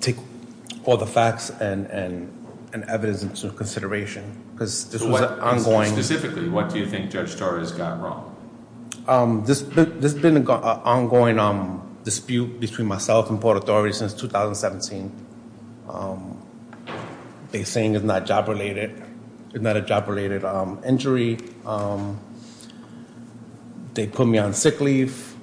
Take all the facts and evidence into consideration. Specifically, what do you think Judge Torres got wrong? There's been an ongoing dispute between myself and Port Authority since 2017. They're saying it's not a job-related injury. They put me on sick leave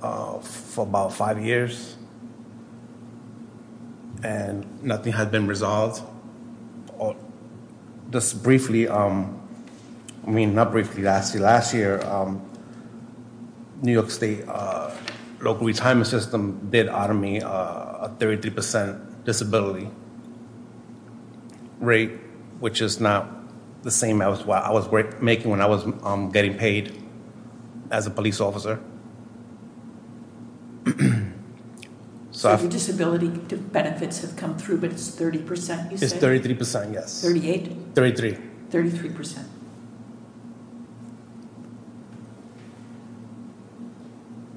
for about five years. And nothing had been resolved. Just briefly, I mean, not briefly, last year, New York State local retirement system did honor me a 30% disability rate, which is not the same as what I was making when I was getting paid as a police officer. So your disability benefits have come through, but it's 30%, you said? It's 33%, yes. 38? 33. 33%.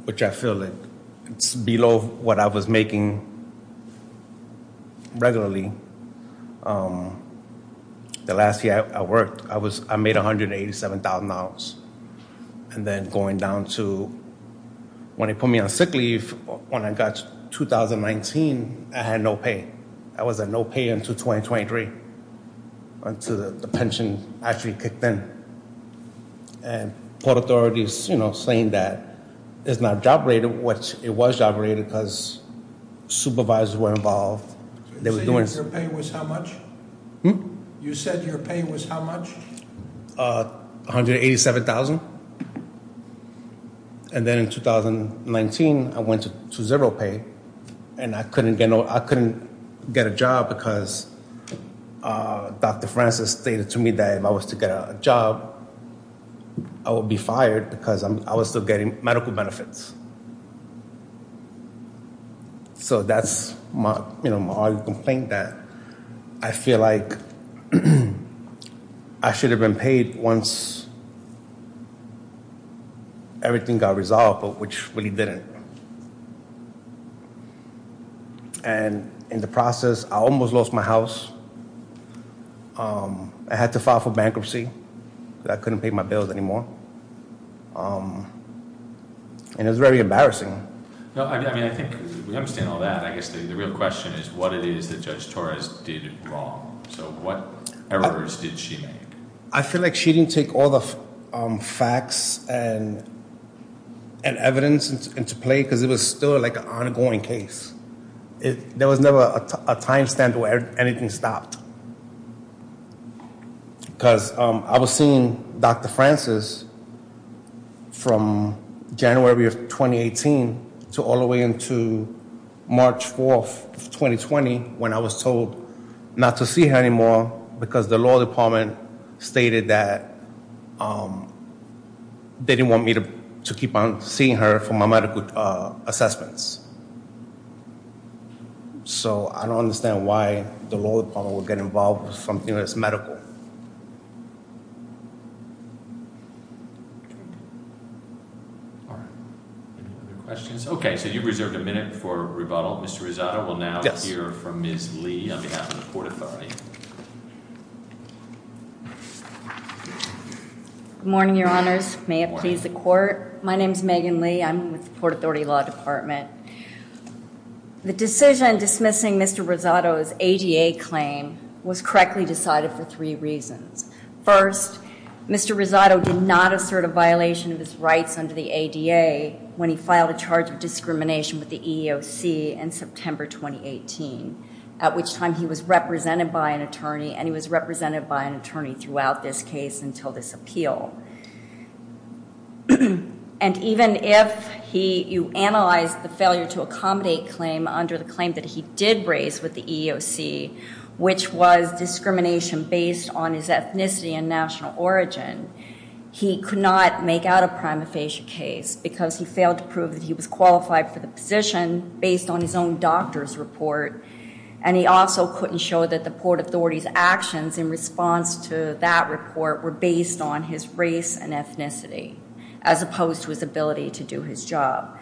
Which I feel like it's below what I was making regularly. The last year I worked, I made $187,000. And then going down to when they put me on sick leave, when I got to 2019, I had no pay. I was at no pay until 2023, until the pension actually kicked in. And Port Authority is saying that it's not a job-related, which it was job-related because supervisors were involved. So you said your pay was how much? Hmm? You said your pay was how much? $187,000. And then in 2019, I went to zero pay, and I couldn't get a job because Dr. Francis stated to me that if I was to get a job, I would be fired because I was still getting medical benefits. So that's my argument that I feel like I should have been paid once everything got resolved, but which really didn't. And in the process, I almost lost my house. I had to file for bankruptcy because I couldn't pay my bills anymore. And it was very embarrassing. I mean, I think we understand all that. I guess the real question is what it is that Judge Torres did wrong. So what errors did she make? I feel like she didn't take all the facts and evidence into play because it was still like an ongoing case. There was never a time stamp where anything stopped. Because I was seeing Dr. Francis from January of 2018 to all the way into March 4, 2020, when I was told not to see her anymore because the law department stated that they didn't want me to keep on seeing her for my medical assessments. So I don't understand why the law department would get involved with something that's medical. Any other questions? Okay, so you've reserved a minute for rebuttal. Mr. Rosado will now hear from Ms. Lee on behalf of the Court Authority. Good morning, Your Honors. May it please the Court. My name is Megan Lee. I'm with the Court Authority Law Department. The decision dismissing Mr. Rosado's ADA claim was correctly decided for three reasons. First, Mr. Rosado did not assert a violation of his rights under the ADA when he filed a charge of discrimination with the EEOC in September 2018, at which time he was represented by an attorney, and he was represented by an attorney throughout this case until this appeal. And even if you analyze the failure to accommodate claim under the claim that he did raise with the EEOC, which was discrimination based on his ethnicity and national origin, he could not make out a prima facie case because he failed to prove that he was qualified for the position based on his own doctor's report. And he also couldn't show that the Port Authority's actions in response to that report were based on his race and ethnicity, as opposed to his ability to do his job.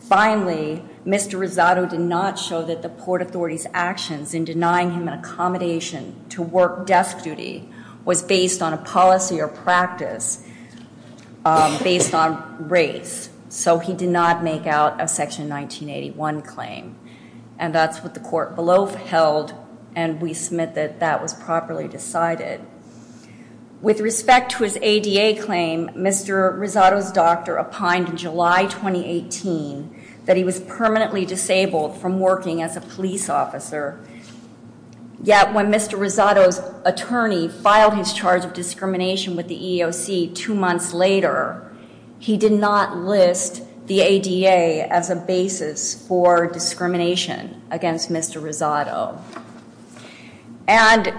Finally, Mr. Rosado did not show that the Port Authority's actions in denying him an accommodation to work desk duty was based on a policy or practice based on race, so he did not make out a Section 1981 claim. And that's what the court below held, and we submit that that was properly decided. With respect to his ADA claim, Mr. Rosado's doctor opined in July 2018 that he was permanently disabled from working as a police officer. Yet when Mr. Rosado's attorney filed his charge of discrimination with the EEOC two months later, he did not list the ADA as a basis for discrimination against Mr. Rosado. And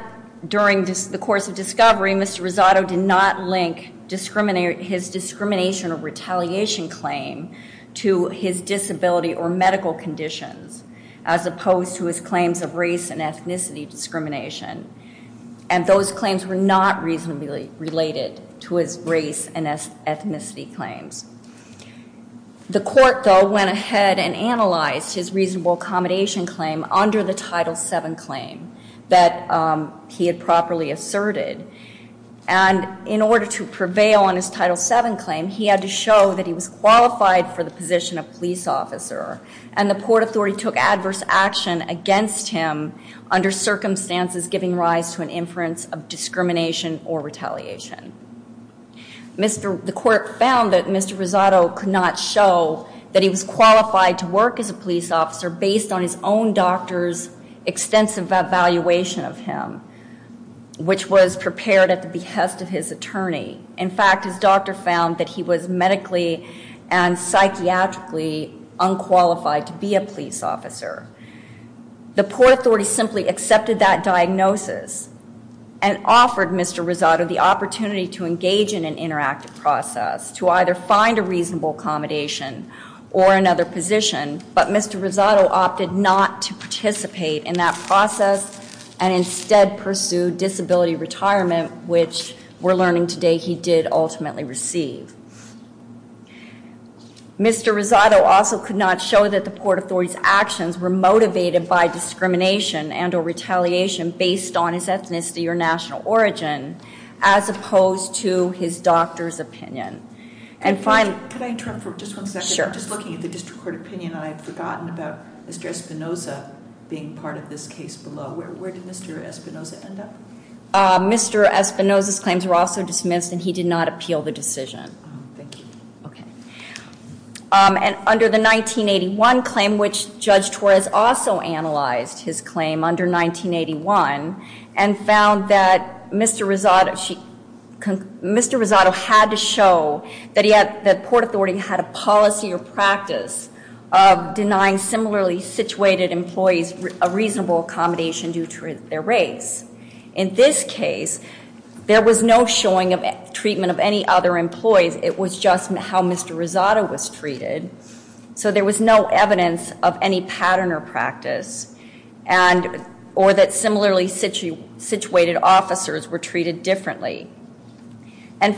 during the course of discovery, Mr. Rosado did not link his discrimination or retaliation claim to his disability or medical conditions, as opposed to his claims of race and ethnicity discrimination. And those claims were not reasonably related to his race and ethnicity claims. The court, though, went ahead and analyzed his reasonable accommodation claim under the Title VII claim that he had properly asserted. And in order to prevail on his Title VII claim, he had to show that he was qualified for the position of police officer, and the court authority took adverse action against him under circumstances giving rise to an inference of discrimination or retaliation. The court found that Mr. Rosado could not show that he was qualified to work as a police officer based on his own doctor's extensive evaluation of him, which was prepared at the behest of his attorney. In fact, his doctor found that he was medically and psychiatrically unqualified to be a police officer. The court authority simply accepted that diagnosis and offered Mr. Rosado the opportunity to engage in an interactive process, to either find a reasonable accommodation or another position, but Mr. Rosado opted not to participate in that process and instead pursued disability retirement, which we're learning today he did ultimately receive. Mr. Rosado also could not show that the court authority's actions were motivated by discrimination and or retaliation based on his ethnicity or national origin, as opposed to his doctor's opinion. Could I interrupt for just one second? Sure. I'm just looking at the district court opinion, and I've forgotten about Mr. Espinoza being part of this case below. Where did Mr. Espinoza end up? Mr. Espinoza's claims were also dismissed, and he did not appeal the decision. Oh, thank you. Okay. And under the 1981 claim, which Judge Torres also analyzed his claim under 1981, and found that Mr. Rosado had to show that the court authority had a policy or practice of denying similarly situated employees a reasonable accommodation due to their race. In this case, there was no showing of treatment of any other employees. It was just how Mr. Rosado was treated, so there was no evidence of any pattern or practice, or that similarly situated officers were treated differently. And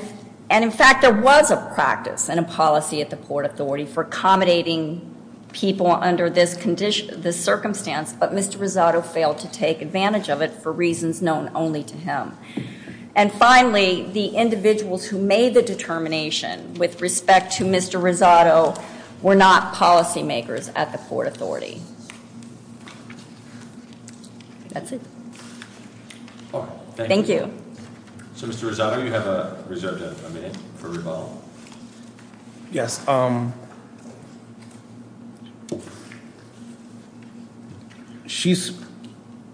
in fact, there was a practice and a policy at the court authority for accommodating people under this circumstance, but Mr. Rosado failed to take advantage of it for reasons known only to him. And finally, the individuals who made the determination with respect to Mr. Rosado were not policy makers at the court authority. That's it. Thank you. So Mr. Rosado, you have a reserved minute for rebuttal. Yes. She's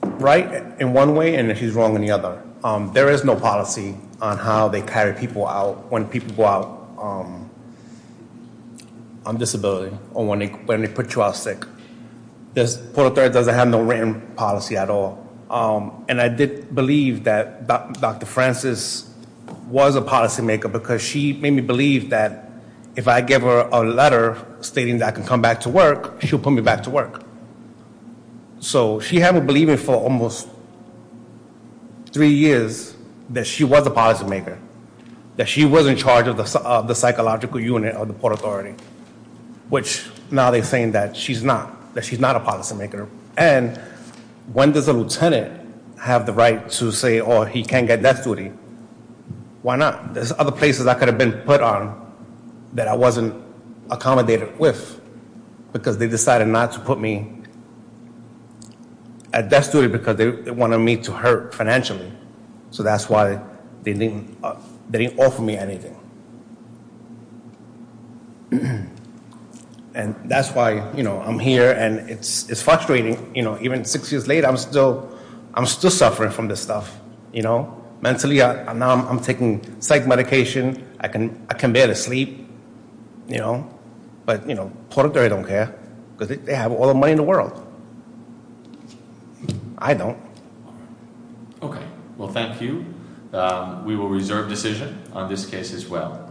right in one way and she's wrong in the other. There is no policy on how they carry people out when people go out on disability or when they put you out sick. This court authority doesn't have no written policy at all. And I did believe that Dr. Francis was a policy maker because she made me believe that if I give her a letter stating that I can come back to work, she'll put me back to work. So she had me believing for almost three years that she was a policy maker, that she was in charge of the psychological unit of the court authority, which now they're saying that she's not, that she's not a policy maker. And when does a lieutenant have the right to say, oh, he can't get death duty? Why not? There's other places I could have been put on that I wasn't accommodated with because they decided not to put me at death duty because they wanted me to hurt financially. So that's why they didn't offer me anything. And that's why I'm here, and it's frustrating. Even six years later, I'm still suffering from this stuff. Mentally, now I'm taking psych medication. I can barely sleep. But politically, I don't care because they have all the money in the world. I don't. Okay. Well, thank you. We will reserve decision on this case as well.